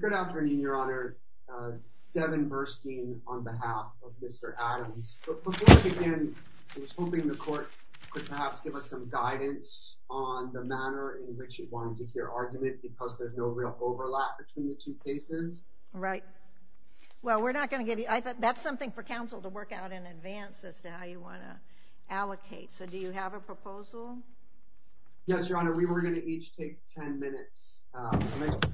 Good afternoon, Your Honor. Devon Burstein on behalf of Mr. Adams. Before we begin, I was hoping the Court could perhaps give us some guidance on the manner in which it wanted to hear argument because there's no real overlap between the two cases. Right. Well, we're not going to give you... I thought that's something for Council to work out in advance as to how you want to allocate. So do you have a proposal? Yes, Your Honor. We were going to each take 10 minutes. I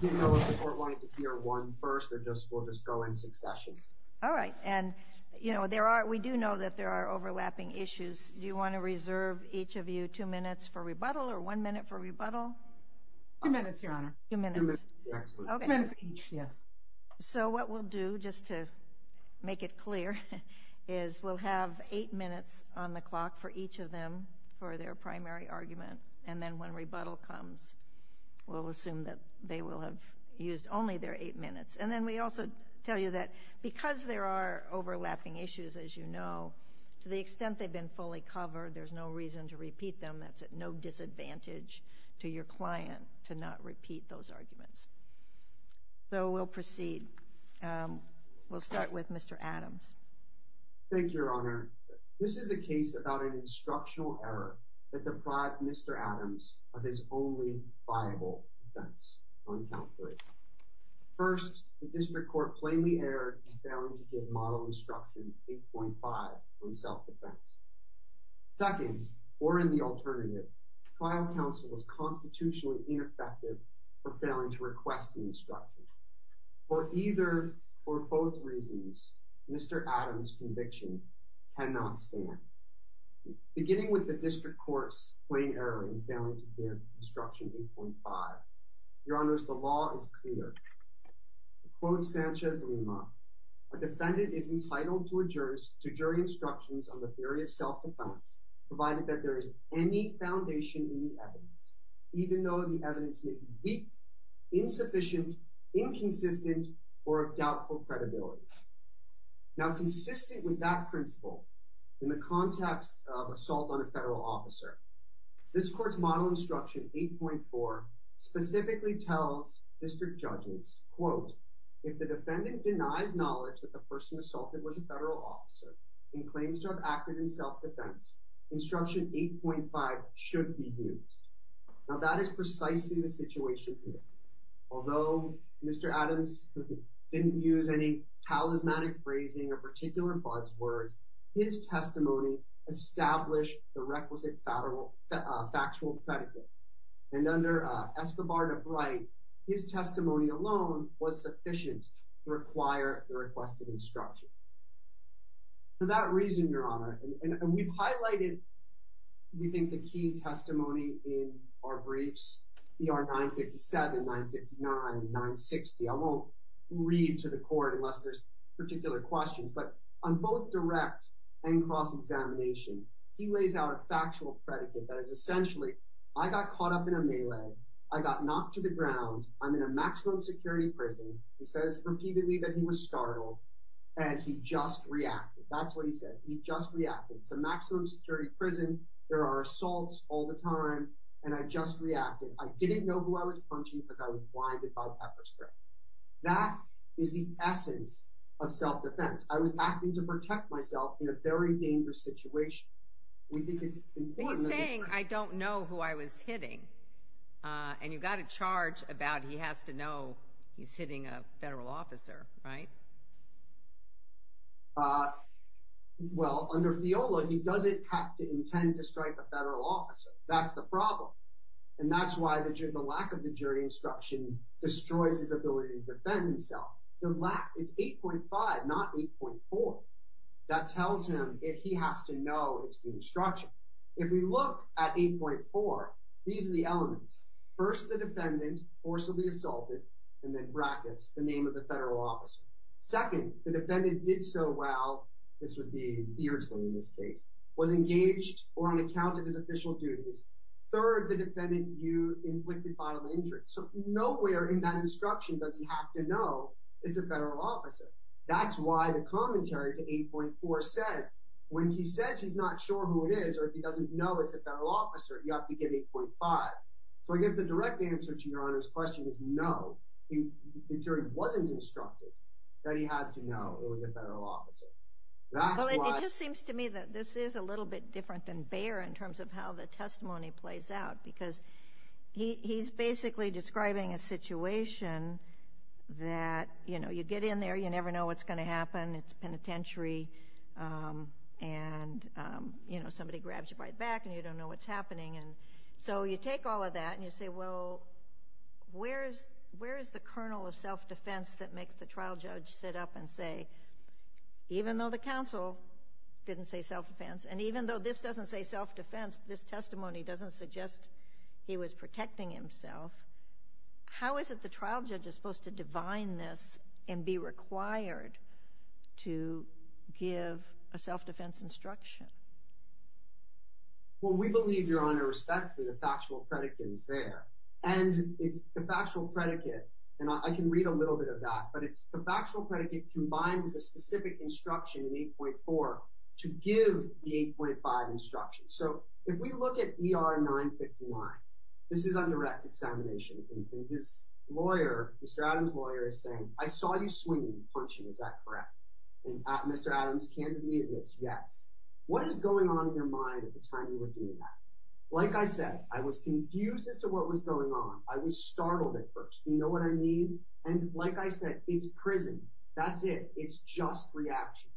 do know if the Court wanted to hear one first, we'll just go in succession. All right. And we do know that there are overlapping issues. Do you want to reserve each of you two minutes for rebuttal or one minute for rebuttal? Two minutes, Your Honor. Two minutes. Two minutes each, yes. So what we'll do, just to make it clear, is we'll have eight minutes on the clock for each of them for their primary argument, and then when rebuttal comes, we'll assume that they will have used only their eight minutes. And then we also tell you that because there are overlapping issues, as you know, to the extent they've been fully covered, there's no reason to repeat them. That's at no disadvantage to your client to not repeat those arguments. So we'll proceed. We'll start with Mr. Adams. Thank you, Your Honor. This is a case about an instructional error that deprived Mr. Adams of his only viable defense on count three. First, the District Court plainly erred in failing to give model instruction 8.5 on self-defense. Second, or in the alternative, trial counsel was constitutionally ineffective for failing to request the instruction. For either or both reasons, Mr. Adams' conviction cannot stand. Beginning with the District Court's plain error in failing to give instruction 8.5, Your Honors, the law is clear. To quote Sanchez Lima, a defendant is entitled to a jury instructions on the theory of self-defense provided that there is any foundation in the evidence, even though the evidence may be weak, insufficient, inconsistent, or of doubtful credibility. Now, consistent with that principle, in the context of assault on a federal officer, this Court's model instruction 8.4 specifically tells District Judges, quote, if the defendant denies knowledge that the instruction 8.5 should be used. Now, that is precisely the situation here. Although Mr. Adams didn't use any talismanic phrasing or particular buzzwords, his testimony established the requisite factual predicate. And under Escobar de Bright, his testimony alone was We think the key testimony in our briefs, ER 957, 959, 960, I won't read to the Court unless there's particular questions, but on both direct and cross-examination, he lays out a factual predicate that is essentially, I got caught up in a melee, I got knocked to the ground, I'm in a maximum security prison, he says repeatedly that he was startled, and he just reacted. That's what he said, he just reacted. It's a maximum security prison, there are assaults all the time, and I just reacted. I didn't know who I was punching because I was blinded by pepper spray. That is the essence of self-defense. I was acting to protect myself in a very dangerous situation. We think it's important that we He's saying, I don't know who I was hitting. And you've got a charge about he has to know he's hitting a federal officer, right? Well, under FIOLA, he doesn't have to intend to strike a federal officer. That's the problem. And that's why the lack of the jury instruction destroys his ability to defend himself. The lack, it's 8.5, not 8.4. That tells him if he has to know it's the instruction. If we look at 8.4, these are the elements. First, the defendant, forcibly assaulted, and then brackets, the name of the federal officer. Second, the defendant did so well, this would be years later in this case, was engaged or unaccounted as official duties. Third, the defendant, you inflicted violent injury. So nowhere in that instruction does he have to know it's a federal officer. That's why the commentary to 8.4 says, when he says he's not sure who it is or he doesn't know it's a federal officer, you have to give 8.5. So I guess the direct answer to Your Honor's question is no, the jury wasn't instructed that he had to know it was a federal officer. Well, it just seems to me that this is a little bit different than Bayer in terms of how the testimony plays out, because he's basically describing a situation that, you know, you sit in there, you never know what's going to happen, it's penitentiary, and somebody grabs you by the back and you don't know what's happening. So you take all of that and you say, well, where is the kernel of self-defense that makes the trial judge sit up and say, even though the counsel didn't say self-defense, and even though this doesn't say self-defense, this testimony doesn't suggest he was protecting himself, how is it the trial judge is supposed to divine this and be required to give a self-defense instruction? Well, we believe, Your Honor, respectfully, the factual predicate is there, and it's the factual predicate, and I can read a little bit of that, but it's the factual predicate combined with the specific instruction in 8.4 to give the 8.5 instruction. So if we look at ER 959, this is on direct examination, and his lawyer, Mr. Adams' lawyer is saying, I saw you swinging and punching, is that correct? And Mr. Adams candidly admits yes. What is going on in your mind at the time you were doing that? Like I said, I was confused as to what was going on, I was startled at first, you know what I mean? And like I said, it's prison, that's it, it's just reaction.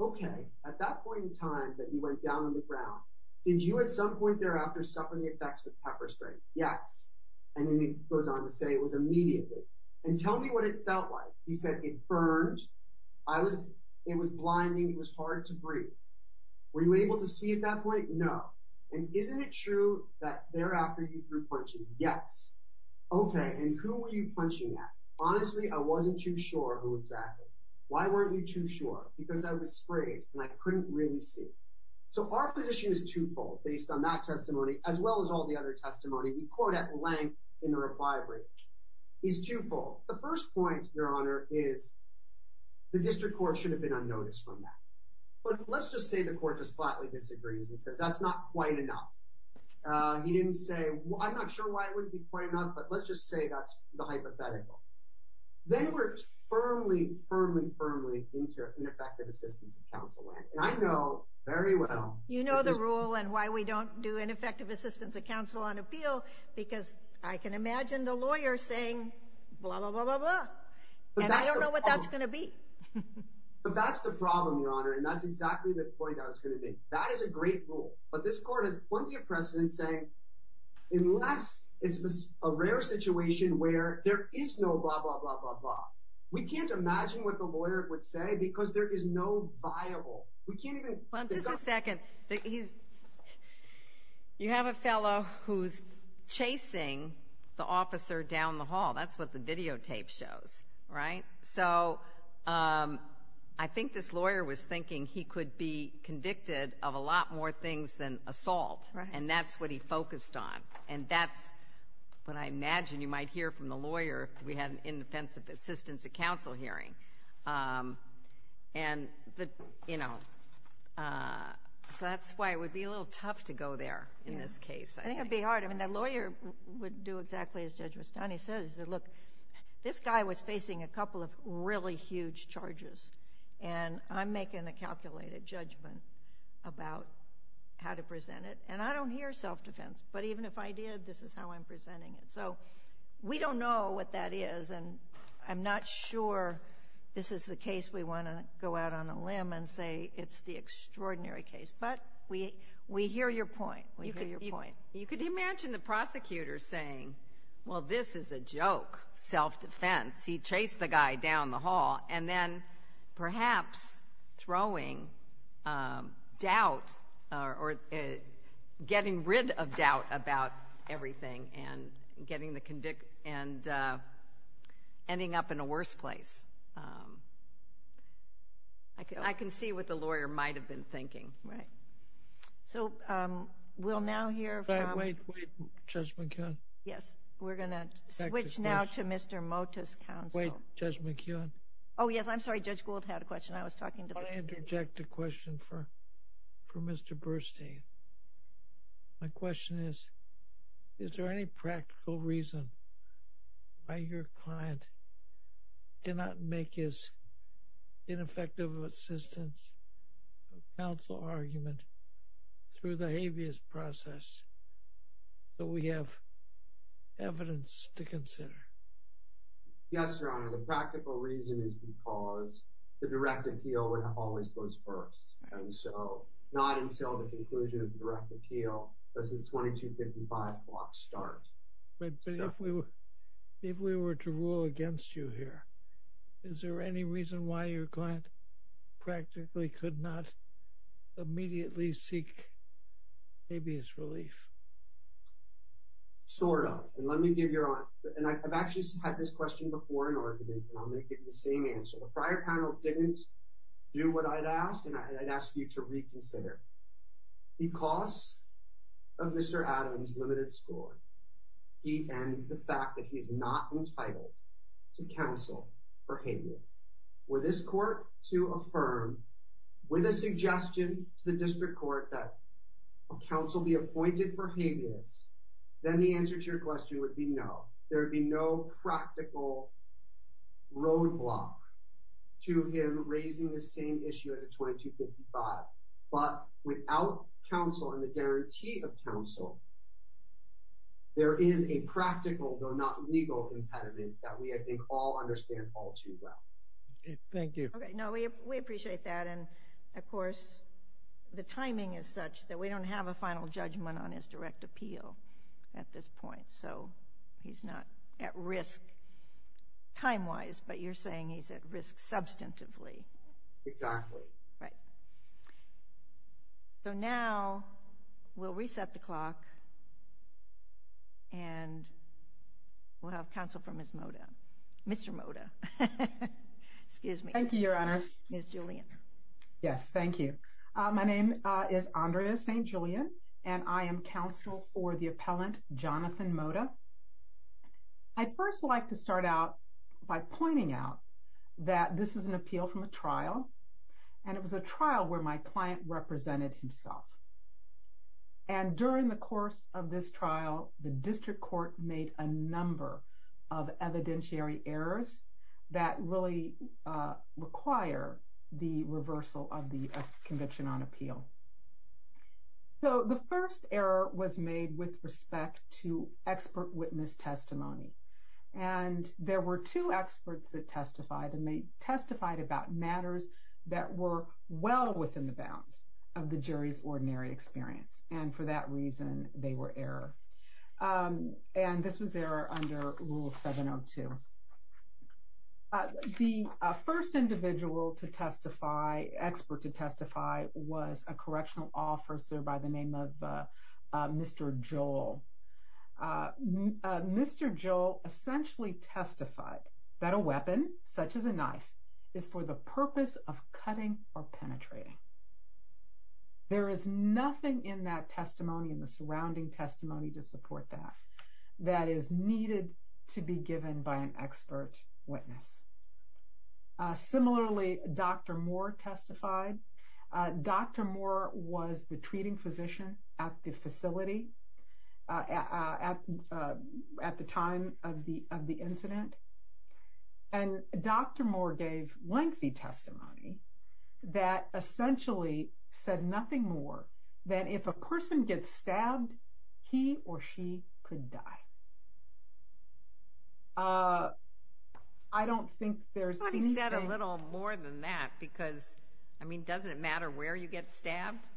Okay, at that point in time that you went down on the ground, did you at some point thereafter suffer the effects of pepper spray? Yes. And then he goes on to say it was immediately. And tell me what it felt like. He said it burned, it was blinding, it was hard to breathe. Were you able to see at that point? No. And isn't it true that thereafter you threw punches? Yes. Okay, and who were you punching at? Honestly, I wasn't too sure who exactly. Why weren't you too sure? Because I was sprayed and I couldn't really see. So our position is twofold based on that testimony, as well as all the other testimony we quote at length in the reply brief. He's twofold. The first point, Your Honor, is the district court should have been unnoticed from that. But let's just say the court just flatly disagrees and says that's not quite enough. He didn't say, I'm not sure why it wouldn't be quite enough, but let's just say that's the hypothetical. Then we're firmly, firmly, firmly into ineffective assistance of counsel. And I know very well. You know the rule and why we don't do ineffective assistance of counsel on appeal, because I can imagine the lawyer saying, blah, blah, blah, blah, blah. And I don't know what that's going to be. But that's the problem, Your Honor. And that's exactly the point I was going to make. That is a great rule. But this court has plenty of precedent saying, unless it's a rare situation where there is no blah, blah, blah, blah, blah. We can't imagine what the lawyer would say because there is no viable. We can't even. Well, just a second. You have a fellow who's chasing the officer down the hall. That's what the videotape shows, right? So I think this lawyer was thinking he could be convicted of a lot more things than assault. And that's what he focused on. And that's what I imagine you might hear from the lawyer if we had an inoffensive assistance of counsel hearing. And, you know, so that's why it would be a little tough to go there in this case. I think it would be hard. I mean, the lawyer would do exactly as Judge Rustani says. He said, look, this guy was facing a couple of really huge charges. And I'm making a calculated judgment about how to present it. And I don't hear self-defense. But even if I did, this is how I'm presenting it. So we don't know what that is. And I'm not sure this is the case we want to go out on a limb and say it's the extraordinary case. But we hear your point. We hear your point. You could imagine the prosecutor saying, well, this is a joke, self-defense. He chased the guy down the hall. And then perhaps throwing doubt or getting rid of doubt about everything and getting the convict and ending up in a worse place. I can see what the lawyer might have been thinking. Right. So we'll now hear from Wait, wait, Judge McCann. Yes, we're going to switch now to Mr. Motis' counsel. Wait, Judge McCann. Oh, yes. I'm sorry. Judge Gould had a question. I was talking to him. I'm going to interject a question for Mr. Burstein. My question is, is there any practical reason why your client did not make his ineffective assistance counsel argument through the habeas process that we have evidence to consider? Yes, Your Honor. The practical reason is because the direct appeal always goes first. And so not until the conclusion of the direct appeal does this 2255 block start. But if we were to rule against you here, is there any reason why your client practically could not immediately seek habeas relief? Sort of. And let me give your answer. And I've actually had this question before in argument, and I'm going to give you the same answer. The prior panel didn't do what I'd ask, and I'd ask you to reconsider. Because of Mr. Adams' limited score, he ended the fact that he's not entitled to counsel for habeas. Were this court to affirm with a suggestion to the district court that counsel be appointed for habeas, then the answer to your question would be no. There would be no practical roadblock to him raising the same issue as a 2255. But without counsel and the guarantee of counsel, there is a practical, though not legal, impediment that we, I think, all understand all too well. Thank you. Okay. No, we appreciate that. And, of course, the timing is such that we don't have a final judgment on his direct appeal at this point. So he's not at risk time-wise, but you're saying he's at risk substantively. Exactly. Right. So now we'll reset the clock, and we'll have counsel for Ms. Moda. Mr. Moda. Excuse me. Thank you, Your Honors. Ms. Julian. Yes. Thank you. My name is Andrea St. Julian, and I am counsel for the appellant Jonathan Moda. I'd first like to start out by pointing out that this is an appeal from a trial, and it was a trial where my client represented himself. And during the course of this trial, the district court made a number of evidentiary errors that really require the reversal of the conviction on appeal. So the first error was made with respect to expert witness testimony. And there were two experts that testified, and they testified about matters that were well within the bounds of the jury's ordinary experience. And for that reason, they were error. And this was error under Rule 702. The first individual to testify, expert to testify, was a correctional officer by the name of Mr. Joel. Mr. Joel essentially testified that a weapon, such as a knife, is for the purpose of cutting or penetrating. There is nothing in that testimony and the surrounding testimony to support that, that is needed to be given by an expert witness. Similarly, Dr. Moore testified. Dr. Moore was the treating physician at the facility at the time of the incident. And Dr. Moore gave lengthy testimony that essentially said nothing more than if a person gets stabbed, he or she could die. I don't think there's anything... I thought he said a little more than that because, I mean, doesn't it matter where you get stabbed?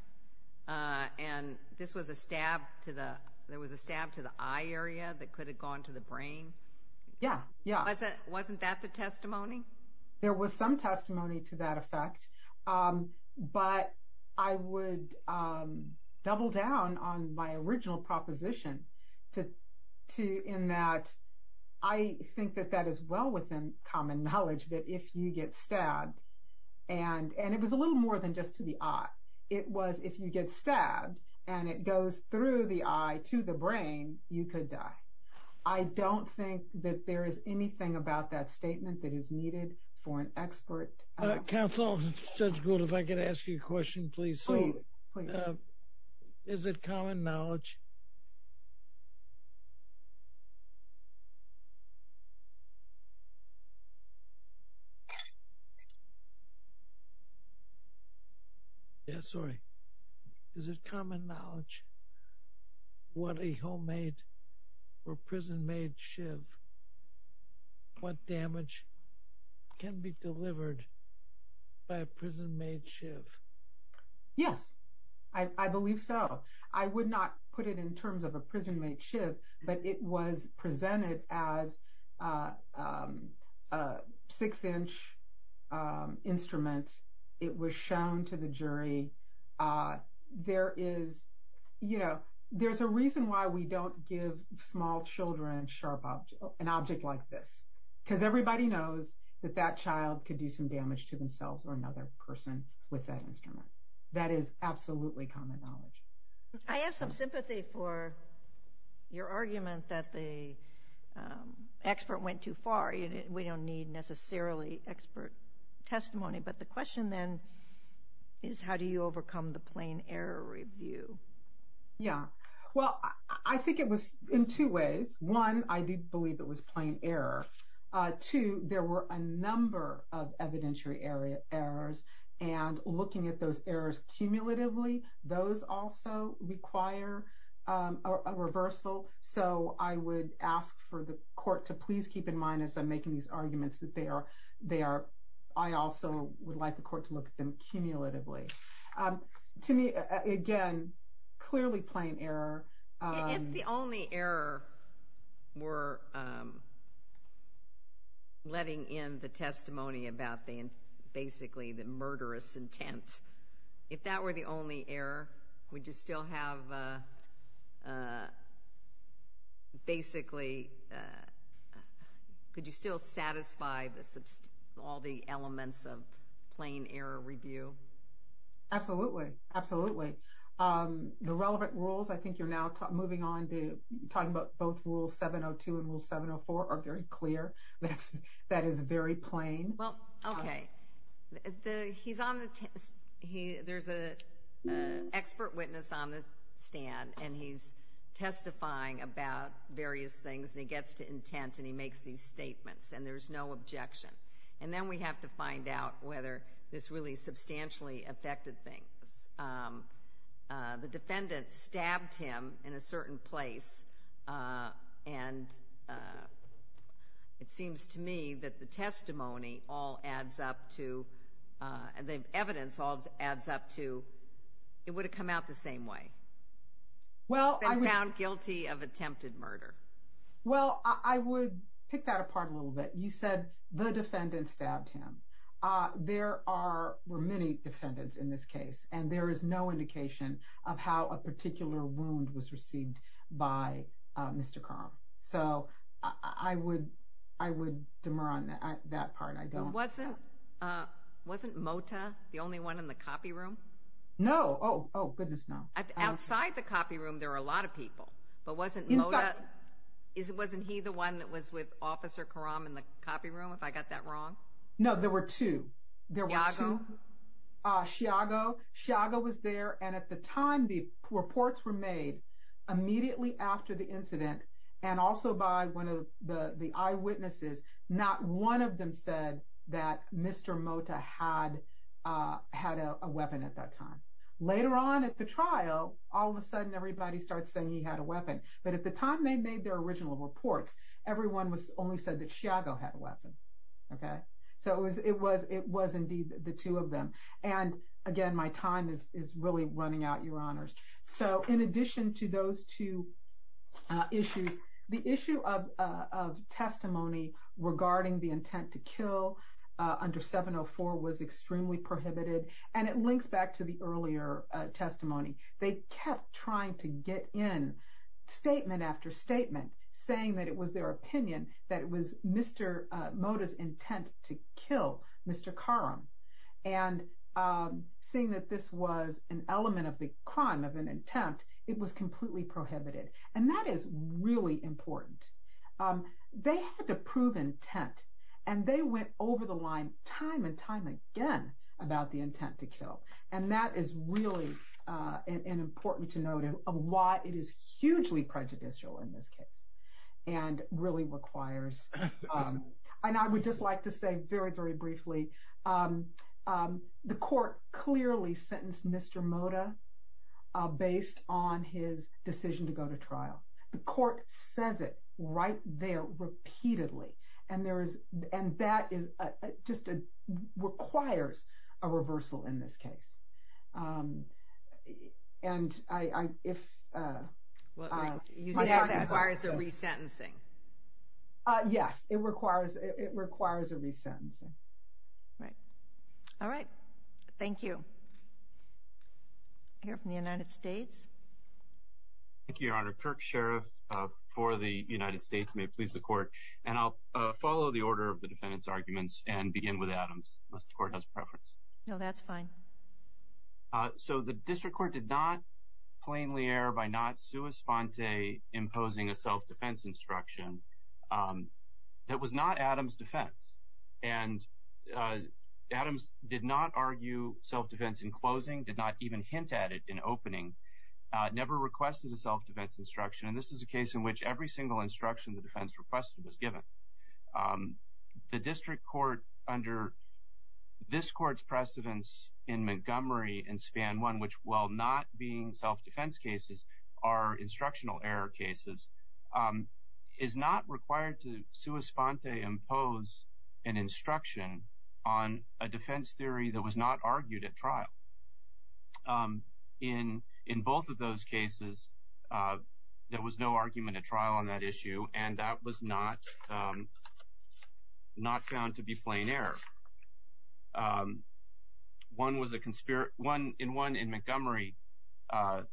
And this was a stab to the... there was a stab to the eye area that could have gone to the brain? Yeah, yeah. Wasn't that the testimony? There was some testimony to that effect. But I would double down on my original proposition in that I think that that is well within common knowledge that if you get stabbed, and it was a little more than just to the eye, it was if you get stabbed and it goes through the eye to the brain, you could die. I don't think that there is anything about that statement that is needed for an expert. Counsel, Judge Gould, if I could ask you a question, please. Please, please. Is it common knowledge? Yeah, sorry. Is it common knowledge what a homemade or prison-made shiv, what damage can be delivered by a prison-made shiv? Yes, I believe so. I would not put it in terms of a prison-made shiv, but it was presented as a six-inch instrument. It was shown to the jury. There is a reason why we don't give small children an object like this, because everybody knows that that child could do some damage to themselves or another person with that instrument. That is absolutely common knowledge. I have some sympathy for your argument that the expert went too far. We don't need necessarily expert testimony, but the question then is how do you overcome the plain error review? Yeah, well, I think it was in two ways. One, I did believe it was plain error. Two, there were a number of evidentiary errors, and looking at those errors cumulatively, those also require a reversal. So I would ask for the court to please keep in mind, as I'm making these arguments, that I also would like the court to look at them cumulatively. To me, again, clearly plain error. If the only error were letting in the testimony about basically the murderous intent, if that were the only error, would you still satisfy all the elements of plain error review? Absolutely, absolutely. The relevant rules, I think you're now moving on to talking about both Rule 702 and Rule 704 are very clear. That is very plain. Well, okay. There's an expert witness on the stand, and he's testifying about various things, and he gets to intent, and he makes these statements, and there's no objection. And then we have to find out whether this really substantially affected things. The defendant stabbed him in a certain place, and it seems to me that the testimony all adds up to, the evidence all adds up to, it would have come out the same way. They found guilty of attempted murder. Well, I would pick that apart a little bit. You said the defendant stabbed him. There were many defendants in this case, and there is no indication of how a particular wound was received by Mr. Karam. So I would demur on that part. Wasn't Mota the only one in the copy room? No. Oh, goodness, no. Outside the copy room, there were a lot of people, but wasn't Mota, wasn't he the one that was with Officer Karam in the copy room, if I got that wrong? No, there were two. There were two. Sciago? Sciago. Sciago was there, and at the time, the reports were made immediately after the incident, and also by one of the eyewitnesses. Not one of them said that Mr. Mota had a weapon at that time. Later on at the trial, all of a sudden, everybody starts saying he had a weapon. But at the time they made their original reports, everyone only said that Sciago had a weapon. So it was indeed the two of them. And, again, my time is really running out, Your Honors. So in addition to those two issues, the issue of testimony regarding the intent to kill under 704 was extremely prohibited, and it links back to the earlier testimony. They kept trying to get in statement after statement saying that it was their opinion that it was Mr. Mota's intent to kill Mr. Karam. And seeing that this was an element of the crime of an intent, it was completely prohibited. And that is really important. They had to prove intent, and they went over the line time and time again about the intent to kill. And that is really important to note of why it is hugely prejudicial in this case and really requires, and I would just like to say very, very briefly, the court clearly sentenced Mr. Mota based on his decision to go to trial. The court says it right there repeatedly. And that just requires a reversal in this case. And if my time has run out. It requires a resentencing. Yes, it requires a resentencing. All right. All right. Thank you. I hear from the United States. Thank you, Your Honor. Mr. Kirk, Sheriff for the United States, may it please the court. And I'll follow the order of the defendant's arguments and begin with Adams, unless the court has preference. No, that's fine. So the district court did not plainly err by not sua sponte imposing a self-defense instruction. That was not Adams' defense. And Adams did not argue self-defense in closing, did not even hint at it in opening, never requested a self-defense instruction. And this is a case in which every single instruction the defense requested is given. The district court under this court's precedence in Montgomery and Span 1, which while not being self-defense cases, are instructional error cases, is not required to sua sponte impose an instruction on a defense theory that was not argued at trial. In both of those cases, there was no argument at trial on that issue, and that was not found to be plain error. In one in Montgomery, the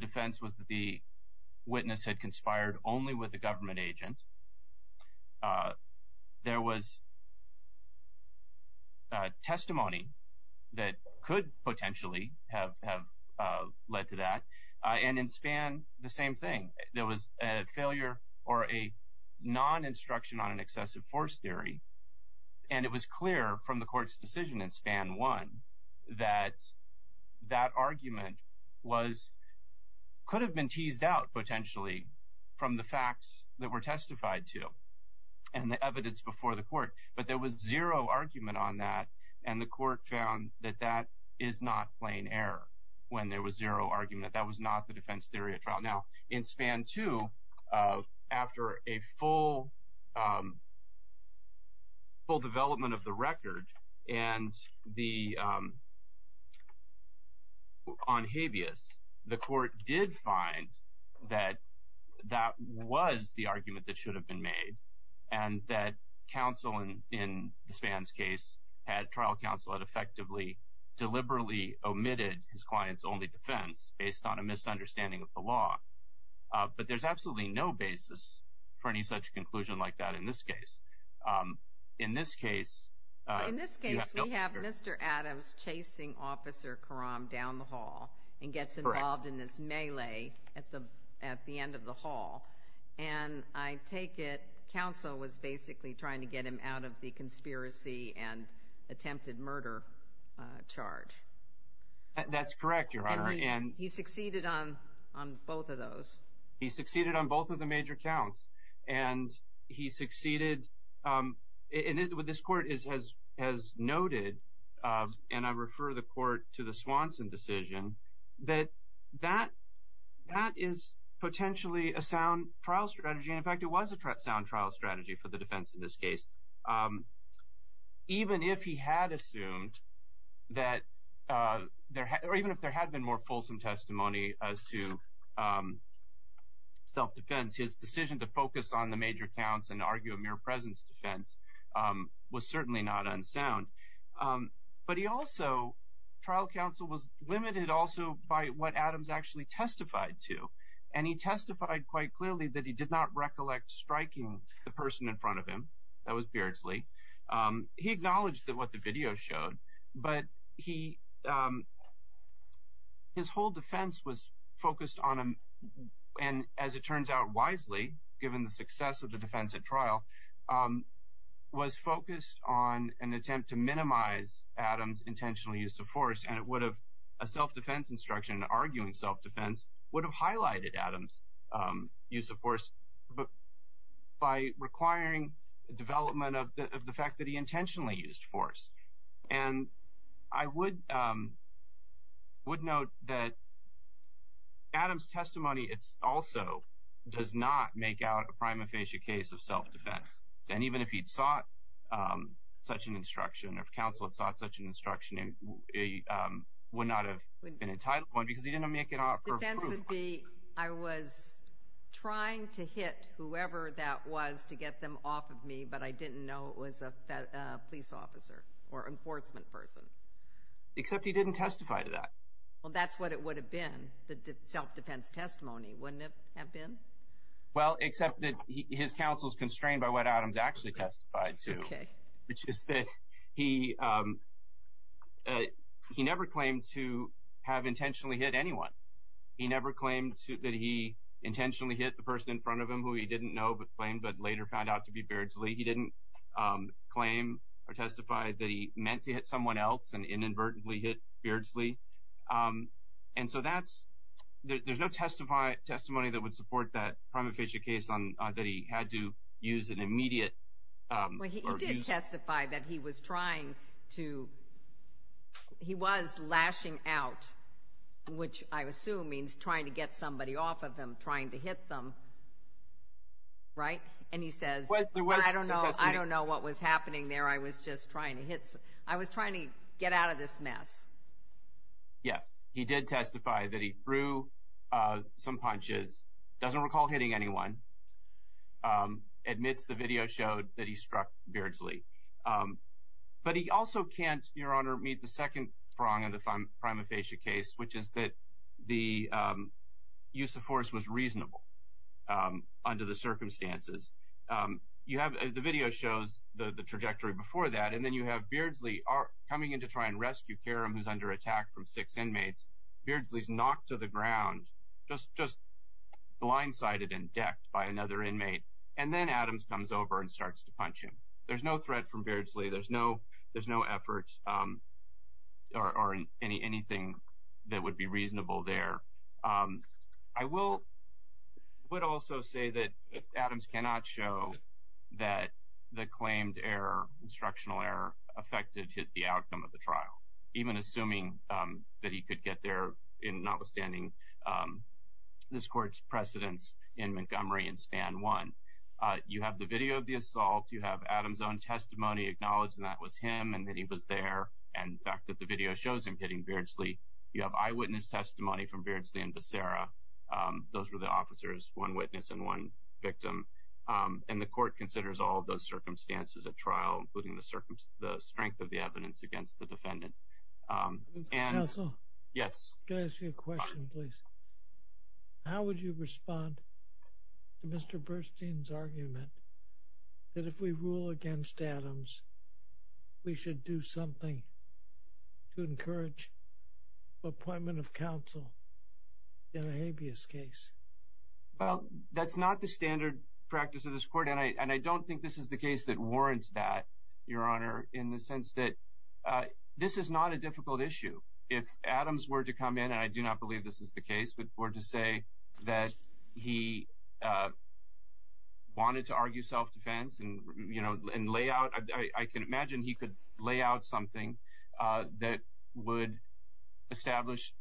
defense was that the witness had conspired only with a government agent. There was testimony that could potentially have led to that. And in Span, the same thing. There was a failure or a non-instruction on an excessive force theory, and it was clear from the court's decision in Span 1 that that argument could have been teased out, potentially, from the facts that were testified to and the evidence before the court. But there was zero argument on that, and the court found that that is not plain error when there was zero argument. That was not the defense theory at trial. Now, in Span 2, after a full development of the record on habeas, the court did find that that was the argument that should have been made, and that counsel in Span's case, trial counsel, had effectively deliberately omitted his client's only defense based on a misunderstanding of the law. But there's absolutely no basis for any such conclusion like that in this case. In this case— In this case, we have Mr. Adams chasing Officer Karam down the hall and gets involved in this melee at the end of the hall, and I take it counsel was basically trying to get him out of the conspiracy and attempted murder charge. That's correct, Your Honor. And he succeeded on both of those. He succeeded on both of the major counts, and he succeeded— and this court has noted, and I refer the court to the Swanson decision, that that is potentially a sound trial strategy, and in fact it was a sound trial strategy for the defense in this case, even if he had assumed that— or even if there had been more fulsome testimony as to self-defense. His decision to focus on the major counts and argue a mere presence defense was certainly not unsound. But he also—trial counsel was limited also by what Adams actually testified to, and he testified quite clearly that he did not recollect striking the person in front of him. That was Beardsley. He acknowledged what the video showed, but he—his whole defense was focused on a— and as it turns out wisely, given the success of the defense at trial, was focused on an attempt to minimize Adams' intentional use of force, and it would have—a self-defense instruction, arguing self-defense, would have highlighted Adams' use of force by requiring development of the fact that he intentionally used force. And I would note that Adams' testimony also does not make out a prima facie case of self-defense, and even if he'd sought such an instruction, or counsel had sought such an instruction, he would not have been entitled to one because he didn't make an offer of proof. The defense would be, I was trying to hit whoever that was to get them off of me, but I didn't know it was a police officer or enforcement person. Except he didn't testify to that. Well, that's what it would have been, the self-defense testimony, wouldn't it have been? Well, except that his counsel's constrained by what Adams actually testified to. Okay. Which is that he never claimed to have intentionally hit anyone. He never claimed that he intentionally hit the person in front of him who he didn't know but claimed, but later found out to be Beardsley. He didn't claim or testify that he meant to hit someone else and inadvertently hit Beardsley. And so that's—there's no testimony that would support that prima facie case that he had to use an immediate— He didn't testify that he was trying to—he was lashing out, which I assume means trying to get somebody off of him, trying to hit them, right? And he says, I don't know what was happening there. I was just trying to hit—I was trying to get out of this mess. Yes. He did testify that he threw some punches, doesn't recall hitting anyone, admits the video showed that he struck Beardsley. But he also can't, Your Honor, meet the second prong of the prima facie case, which is that the use of force was reasonable under the circumstances. You have—the video shows the trajectory before that, and then you have Beardsley coming in to try and rescue Karam, who's under attack from six inmates. Beardsley's knocked to the ground, just blindsided and decked by another inmate. And then Adams comes over and starts to punch him. There's no threat from Beardsley. There's no effort or anything that would be reasonable there. I will—would also say that Adams cannot show that the claimed error, instructional error, affected the outcome of the trial, even assuming that he could get there in notwithstanding this court's precedence in Montgomery in span one. You have the video of the assault. You have Adams' own testimony acknowledging that was him and that he was there, and the fact that the video shows him hitting Beardsley. You have eyewitness testimony from Beardsley and Becerra. Those were the officers, one witness and one victim. And the court considers all of those circumstances at trial, including the strength of the evidence against the defendant. Counsel? Yes. Can I ask you a question, please? How would you respond to Mr. Burstein's argument that if we rule against Adams, we should do something to encourage appointment of counsel in a habeas case? Well, that's not the standard practice of this court, and I don't think this is the case that warrants that, Your Honor, in the sense that this is not a difficult issue. If Adams were to come in, and I do not believe this is the case, but were to say that he wanted to argue self-defense and lay out— I can imagine he could lay out something that would establish—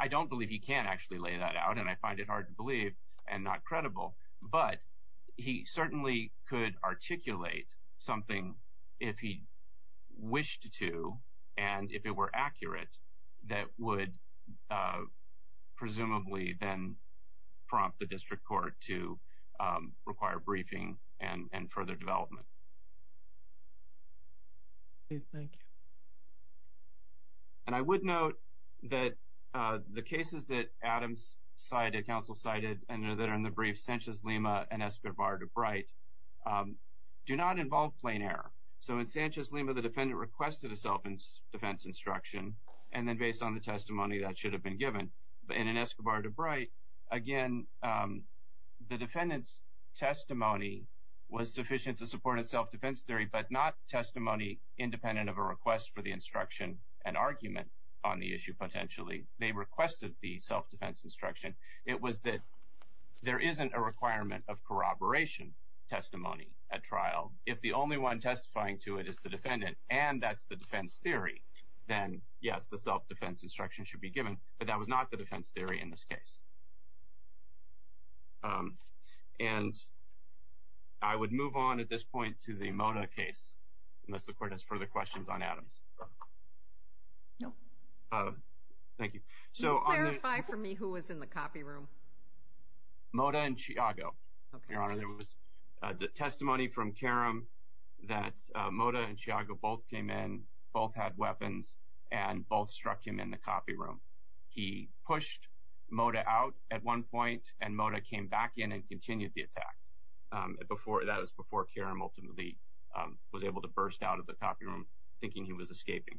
I don't believe he can actually lay that out, and I find it hard to believe and not credible, but he certainly could articulate something if he wished to, and if it were accurate, that would presumably then prompt the district court to require briefing and further development. Thank you. And I would note that the cases that Adams cited, counsel cited, and that are in the brief Sanchez-Lima and Escobar-DeBrite do not involve plain error. So in Sanchez-Lima, the defendant requested a self-defense instruction, and then based on the testimony, that should have been given. In Escobar-DeBrite, again, the defendant's testimony was sufficient to support a self-defense theory, but not testimony independent of a request for the instruction and argument on the issue potentially. They requested the self-defense instruction. It was that there isn't a requirement of corroboration testimony at trial. If the only one testifying to it is the defendant and that's the defense theory, then yes, the self-defense instruction should be given, but that was not the defense theory in this case. And I would move on at this point to the Mota case, unless the court has further questions on Adams. No. Thank you. Can you clarify for me who was in the copy room? Mota and Chiago, Your Honor. There was testimony from Karam that Mota and Chiago both came in, both had weapons, and both struck him in the copy room. He pushed Mota out at one point, and Mota came back in and continued the attack. That was before Karam ultimately was able to burst out of the copy room, thinking he was escaping.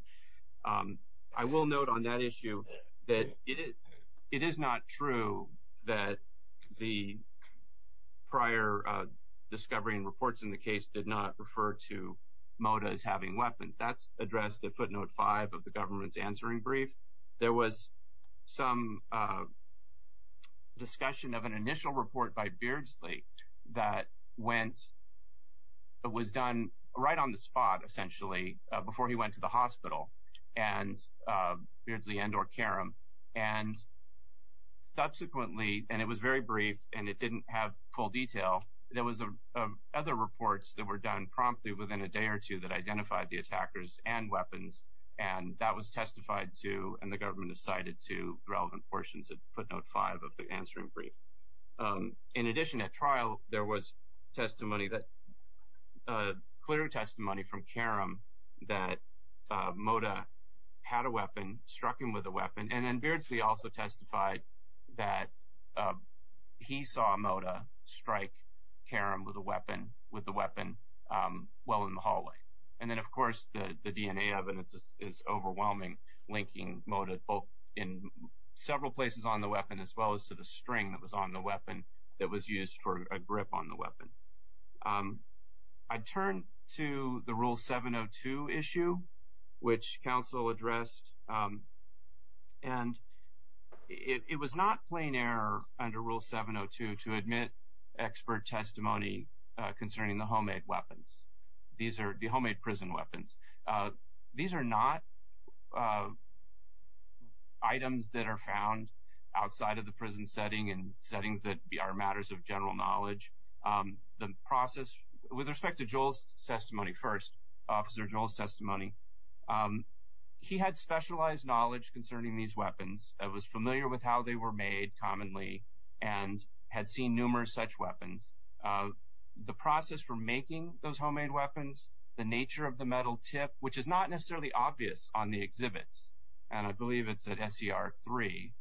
I will note on that issue that it is not true that the prior discovery and reports in the case did not refer to Mota as having weapons. That's addressed at footnote 5 of the government's answering brief. There was some discussion of an initial report by Beardsley that was done right on the spot, essentially, before he went to the hospital, Beardsley and or Karam. And subsequently, and it was very brief and it didn't have full detail, there was other reports that were done promptly within a day or two that identified the attackers and weapons, and that was testified to and the government cited to relevant portions of footnote 5 of the answering brief. In addition, at trial, there was testimony that – clear testimony from Karam that Mota had a weapon, struck him with a weapon, and then Beardsley also testified that he saw Mota strike Karam with a weapon well in the hallway. And then, of course, the DNA evidence is overwhelming linking Mota in several places on the weapon, as well as to the string that was on the weapon that was used for a grip on the weapon. I'd turn to the Rule 702 issue, which counsel addressed, and it was not plain error under Rule 702 to admit expert testimony concerning the homemade weapons. These are the homemade prison weapons. These are not items that are found outside of the prison setting and settings that are matters of general knowledge. The process – with respect to Joel's testimony first, Officer Joel's testimony, he had specialized knowledge concerning these weapons, was familiar with how they were made commonly, and had seen numerous such weapons. The process for making those homemade weapons, the nature of the metal tip, which is not necessarily obvious on the exhibits – and I believe it's at SCR 3,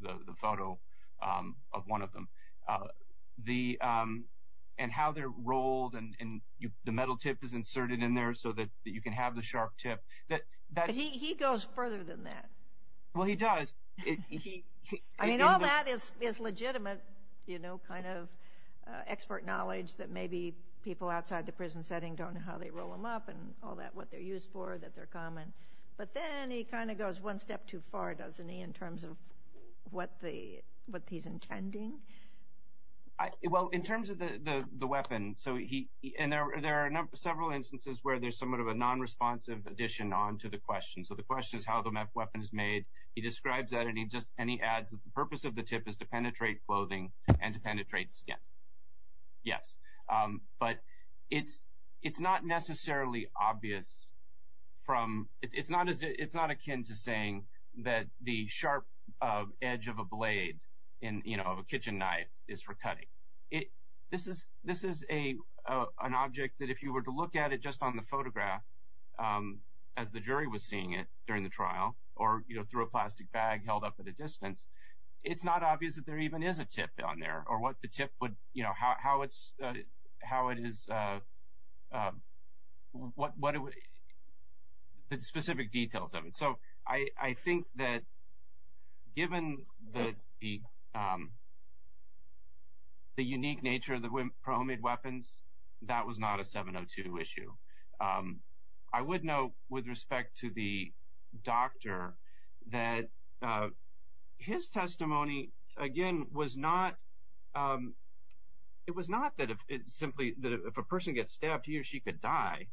the photo of one of them – and how they're rolled and the metal tip is inserted in there so that you can have the sharp tip. But he goes further than that. Well, he does. I mean, all that is legitimate kind of expert knowledge that maybe people outside the prison setting don't know how they roll them up and all that, what they're used for, that they're common. But then he kind of goes one step too far, doesn't he, in terms of what he's intending? Well, in terms of the weapon – so he – and there are several instances where there's somewhat of a nonresponsive addition onto the question. So the question is how the weapon is made. He describes that, and he adds that the purpose of the tip is to penetrate clothing and to penetrate skin. Yes. But it's not necessarily obvious from – it's not akin to saying that the sharp edge of a blade, of a kitchen knife, is for cutting. This is an object that if you were to look at it just on the photograph, as the jury was seeing it during the trial, or through a plastic bag held up at a distance, it's not obvious that there even is a tip on there or what the tip would – how it's – how it is – So I think that given the unique nature of the pro-Ahmad weapons, that was not a 702 issue. I would note with respect to the doctor that his testimony, again, was not – it was not that it simply – that if a person gets stabbed, he or she could die.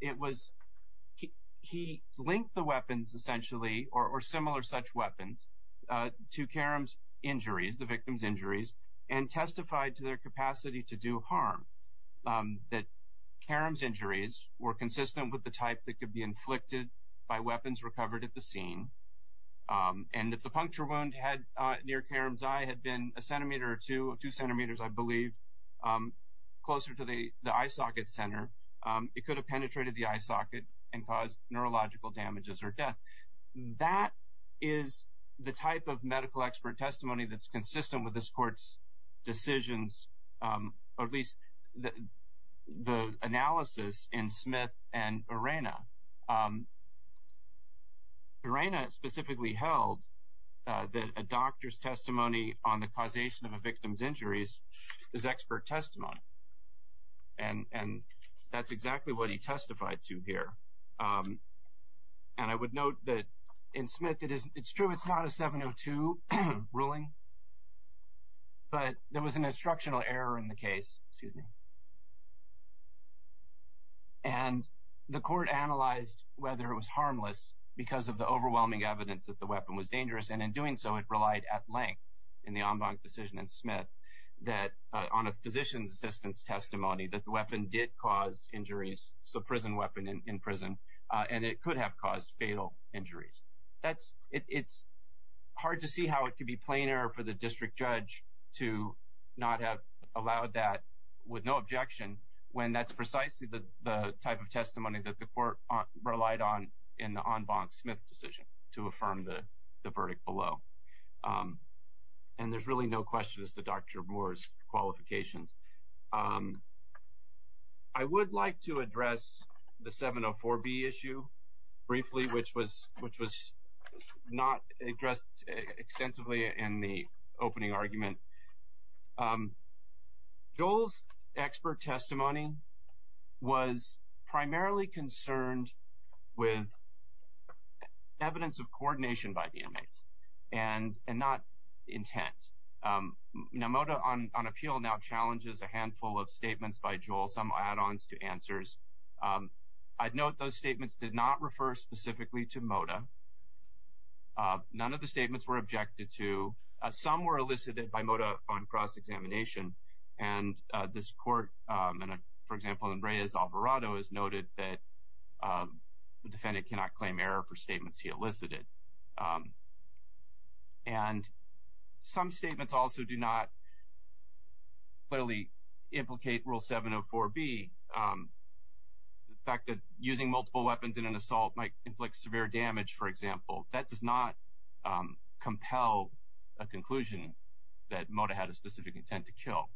It was – he linked the weapons, essentially, or similar such weapons, to Karam's injuries, the victim's injuries, and testified to their capacity to do harm, that Karam's injuries were consistent with the type that could be inflicted by weapons recovered at the scene, and that the puncture wound had – near Karam's eye had been a centimeter or two, two centimeters, I believe, closer to the eye socket center. It could have penetrated the eye socket and caused neurological damages or death. That is the type of medical expert testimony that's consistent with this court's decisions, or at least the analysis in Smith and Urena. Urena specifically held that a doctor's testimony on the causation of a victim's injuries is expert testimony, and that's exactly what he testified to here. And I would note that in Smith it is – it's true it's not a 702 ruling, but there was an instructional error in the case, and the court analyzed whether it was harmless because of the overwhelming evidence that the weapon was dangerous, and in doing so it relied at length in the en banc decision in Smith that – on a physician's assistant's testimony that the weapon did cause injuries, it's a prison weapon in prison, and it could have caused fatal injuries. That's – it's hard to see how it could be plain error for the district judge to not have allowed that with no objection when that's precisely the type of testimony that the court relied on in the en banc Smith decision to affirm the verdict below. And there's really no question as to Dr. Boer's qualifications. I would like to address the 704B issue briefly, which was not addressed extensively in the opening argument. Joel's expert testimony was primarily concerned with evidence of coordination by the inmates and not intent. Now, MOTA on appeal now challenges a handful of statements by Joel, some add-ons to answers. I'd note those statements did not refer specifically to MOTA. None of the statements were objected to. Some were elicited by MOTA on cross-examination. And this court, for example, in Reyes-Alvarado, has noted that the defendant cannot claim error for statements he elicited. And some statements also do not clearly implicate Rule 704B, the fact that using multiple weapons in an assault might inflict severe damage, for example. That does not compel a conclusion that MOTA had a specific intent to kill.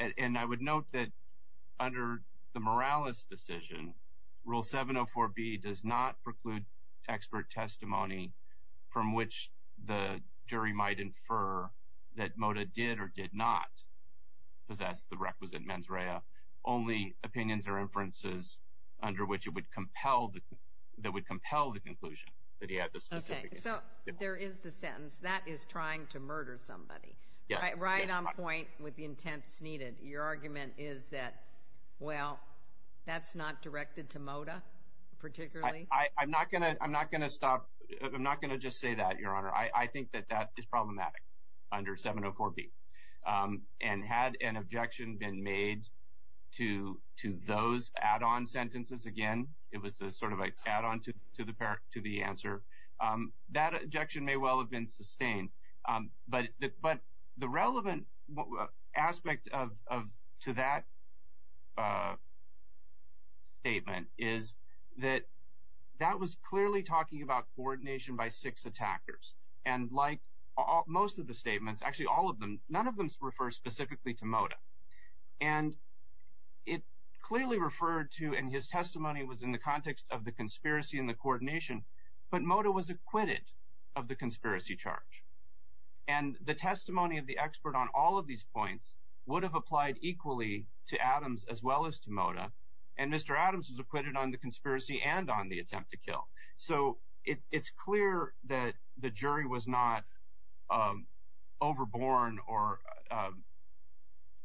And I would note that under the Morales decision, Rule 704B does not preclude expert testimony from which the jury might infer that MOTA did or did not possess the requisite mens rea, only opinions or inferences under which it would compel the conclusion that he had the specific intent. Okay, so there is the sentence, that is trying to murder somebody. Yes. Right on point with the intents needed. Your argument is that, well, that's not directed to MOTA particularly? I'm not going to stop. I'm not going to just say that, Your Honor. I think that that is problematic under 704B. And had an objection been made to those add-on sentences, again, it was sort of an add-on to the answer, that objection may well have been sustained. But the relevant aspect to that statement is that that was clearly talking about coordination by six attackers. And like most of the statements, actually all of them, none of them refer specifically to MOTA. And it clearly referred to, and his testimony was in the context of the conspiracy and the coordination, but MOTA was acquitted of the conspiracy charge. And the testimony of the expert on all of these points would have applied equally to Adams as well as to MOTA. And Mr. Adams was acquitted on the conspiracy and on the attempt to kill. So it's clear that the jury was not overborn or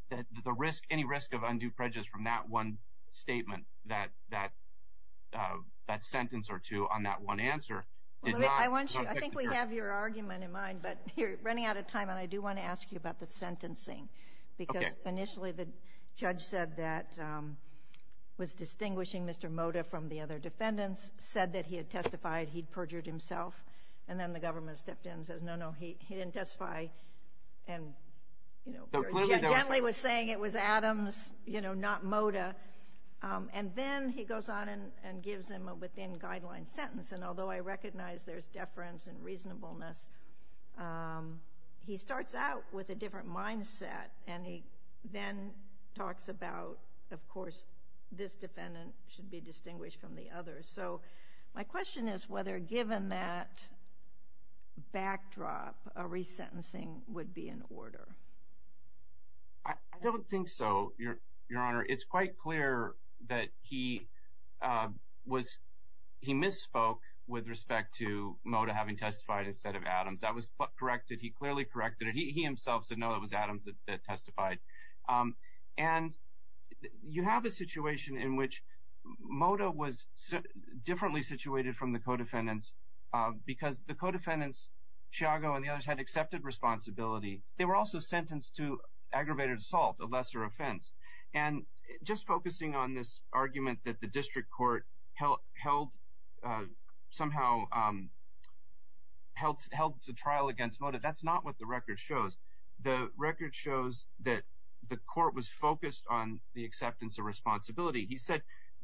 that any risk of undue prejudice from that one statement, that sentence or two on that one answer did not affect the jury. I think we have your argument in mind, but you're running out of time, and I do want to ask you about the sentencing. Okay. Because initially the judge said that, was distinguishing Mr. MOTA from the other defendants, said that he had testified, he'd perjured himself, and then the government stepped in and says, no, no, he didn't testify and gently was saying it was Adams, you know, not MOTA. And then he goes on and gives him a within-guideline sentence, and although I recognize there's deference and reasonableness, he starts out with a different mindset, and he then talks about, of course, this defendant should be distinguished from the others. So my question is whether, given that backdrop, a resentencing would be in order. I don't think so, Your Honor. It's quite clear that he misspoke with respect to MOTA having testified instead of Adams. That was corrected. He clearly corrected it. He himself said, no, it was Adams that testified. And you have a situation in which MOTA was differently situated from the co-defendants because the co-defendants, Chiago and the others, had accepted responsibility. They were also sentenced to aggravated assault, a lesser offense. And just focusing on this argument that the district court held somehow held a trial against MOTA, that's not what the record shows. The record shows that the court was focused on the acceptance of responsibility. He said,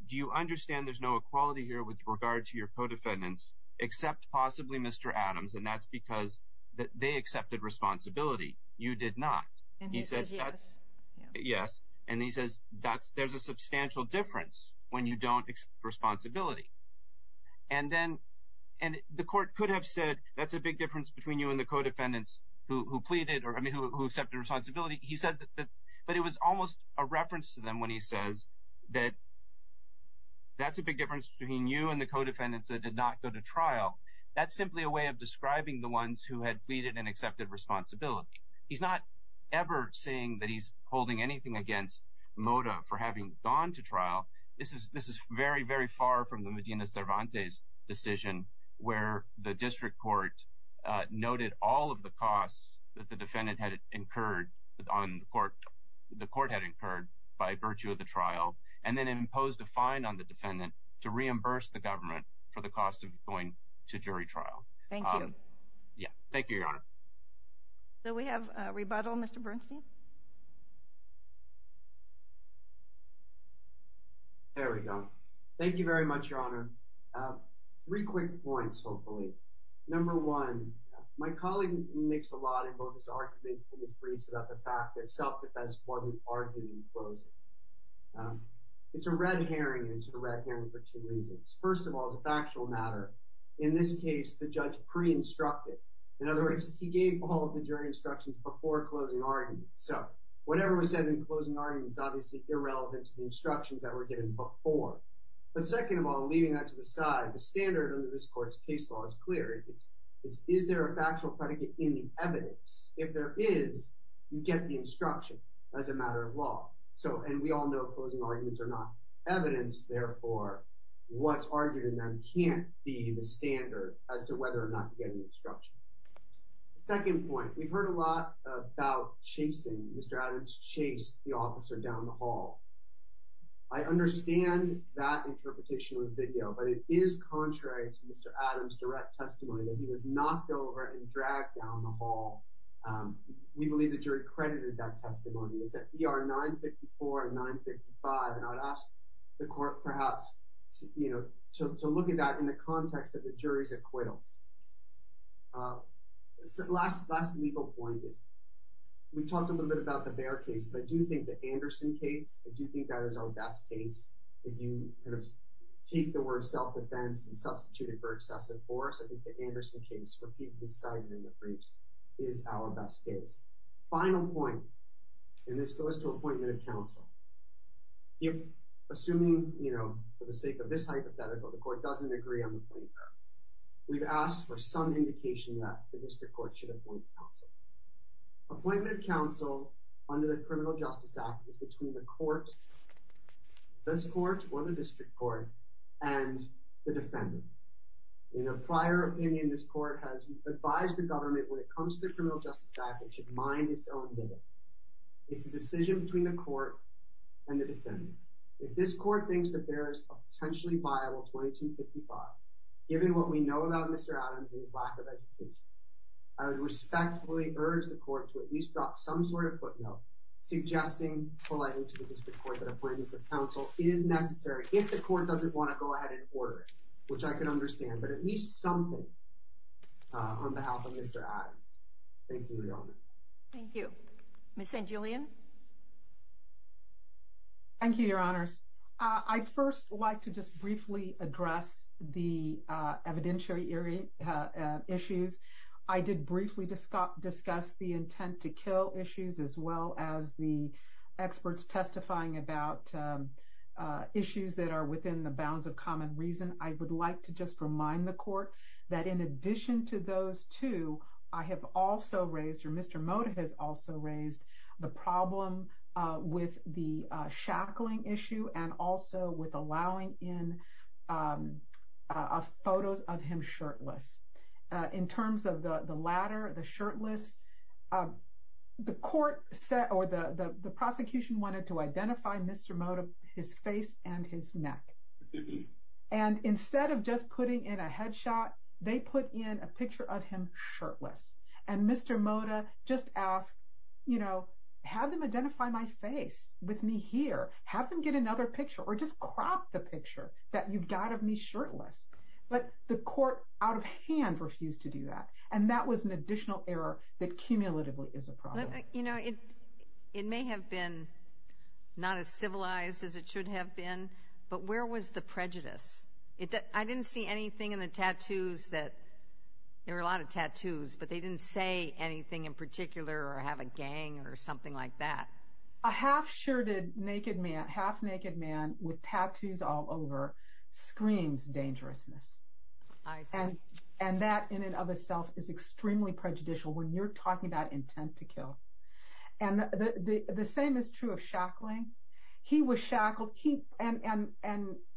do you understand there's no equality here with regard to your co-defendants except possibly Mr. Adams, and that's because they accepted responsibility. You did not. And he says yes. Yes. And he says there's a substantial difference when you don't accept responsibility. And then the court could have said that's a big difference between you and the co-defendants who pleaded or, I mean, who accepted responsibility. He said that it was almost a reference to them when he says that that's a big difference between you and the co-defendants that did not go to trial. That's simply a way of describing the ones who had pleaded and accepted responsibility. He's not ever saying that he's holding anything against MOTA for having gone to trial. This is very, very far from the Medina Cervantes decision, where the district court noted all of the costs that the defendant had incurred on the court, the court had incurred by virtue of the trial, and then imposed a fine on the defendant to reimburse the government for the cost of going to jury trial. Thank you. Yeah. Thank you, Your Honor. Do we have a rebuttal, Mr. Bernstein? There we go. Thank you very much, Your Honor. Three quick points, hopefully. Number one, my colleague makes a lot in both his arguments and his briefs about the fact that self-defense wasn't argued in closing. It's a red herring, and it's a red herring for two reasons. First of all, as a factual matter, in this case, the judge pre-instructed. In other words, he gave all of the jury instructions before closing arguments. So whatever was said in closing arguments is obviously irrelevant to the instructions that were given before. But second of all, leaving that to the side, the standard under this court's case law is clear. It's is there a factual predicate in the evidence? If there is, you get the instruction as a matter of law. And we all know closing arguments are not evidence. Therefore, what's argued in them can't be the standard as to whether or not you get the instruction. Second point, we've heard a lot about chasing. Mr. Adams chased the officer down the hall. I understand that interpretation of the video, but it is contrary to Mr. Adams' direct testimony that he was knocked over and dragged down the hall. We believe the jury credited that testimony. It's at ER 954 and 955, and I would ask the court perhaps to look at that in the context of the jury's acquittals. The last legal point is we've talked a little bit about the Bair case, but do you think the Anderson case, do you think that is our best case? If you take the word self-defense and substitute it for excessive force, I think the Anderson case, repeatedly cited in the briefs, is our best case. Final point, and this goes to appointment of counsel. Assuming, you know, for the sake of this hypothetical, the court doesn't agree on the point there. We've asked for some indication that the district court should appoint counsel. Appointment of counsel under the Criminal Justice Act is between the court, this court or the district court, and the defendant. In a prior opinion, this court has advised the government when it comes to the Criminal Justice Act it should mind its own business. It's a decision between the court and the defendant. If this court thinks that there is a potentially viable 2255, given what we know about Mr. Adams and his lack of education, I would respectfully urge the court to at least drop some sort of footnote suggesting politely to the district court that appointments of counsel is necessary, if the court doesn't want to go ahead and order it, which I can understand, but at least something on behalf of Mr. Adams. Thank you, Your Honor. Thank you. Ms. St. Julian? Thank you, Your Honors. I'd first like to just briefly address the evidentiary issues. I did briefly discuss the intent to kill issues as well as the experts testifying about issues that are within the bounds of common reason. I would like to just remind the court that in addition to those two, I have also raised, or Mr. Mota has also raised, the problem with the shackling issue and also with allowing in photos of him shirtless. In terms of the latter, the shirtless, the prosecution wanted to identify Mr. Mota, his face and his neck. And instead of just putting in a headshot, they put in a picture of him shirtless. And Mr. Mota just asked, you know, have them identify my face with me here. Have them get another picture or just crop the picture that you've got of me shirtless. But the court out of hand refused to do that. And that was an additional error that cumulatively is a problem. You know, it may have been not as civilized as it should have been, but where was the prejudice? I didn't see anything in the tattoos that, there were a lot of tattoos, but they didn't say anything in particular or have a gang or something like that. A half-shirted, half-naked man with tattoos all over screams dangerousness. I see. And that in and of itself is extremely prejudicial when you're talking about intent to kill. And the same is true of shackling. He was shackled and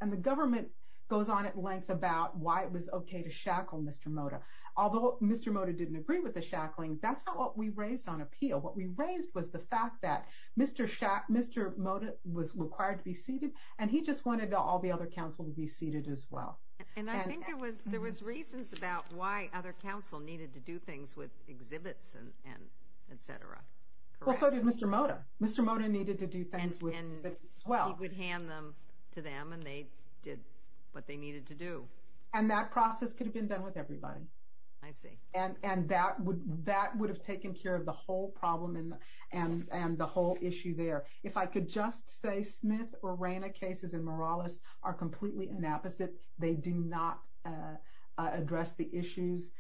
the government goes on at length about why it was okay to shackle Mr. Mota. Although Mr. Mota didn't agree with the shackling, that's not what we raised on appeal. What we raised was the fact that Mr. Mota was required to be seated and he just wanted all the other counsel to be seated as well. And I think there was reasons about why other counsel needed to do things with exhibits and etc. Well, so did Mr. Mota. Mr. Mota needed to do things with exhibits as well. And he would hand them to them and they did what they needed to do. And that process could have been done with everybody. I see. And that would have taken care of the whole problem and the whole issue there. If I could just say Smith or Rayna cases in Morales are completely inapposite. They do not address the issues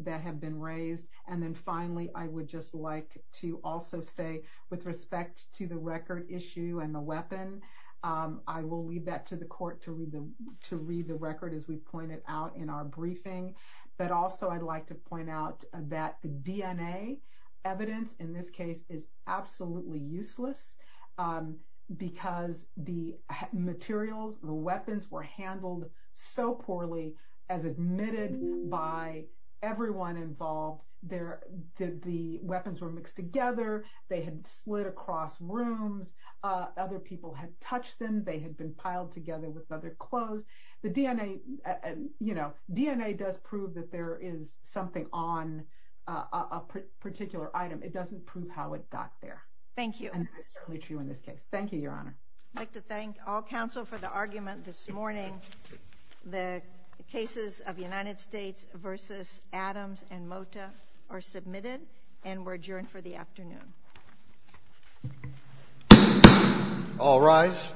that have been raised. And then finally, I would just like to also say with respect to the record issue and the weapon, I will leave that to the court to read the record as we've pointed out in our briefing. But also I'd like to point out that the DNA evidence in this case is absolutely useless. Because the materials, the weapons were handled so poorly as admitted by everyone involved. The weapons were mixed together. They had slid across rooms. Other people had touched them. They had been piled together with other clothes. The DNA does prove that there is something on a particular item. It doesn't prove how it got there. Thank you. And that's certainly true in this case. Thank you, Your Honor. I'd like to thank all counsel for the argument this morning. The cases of United States versus Adams and Mota are submitted and were adjourned for the afternoon. All rise.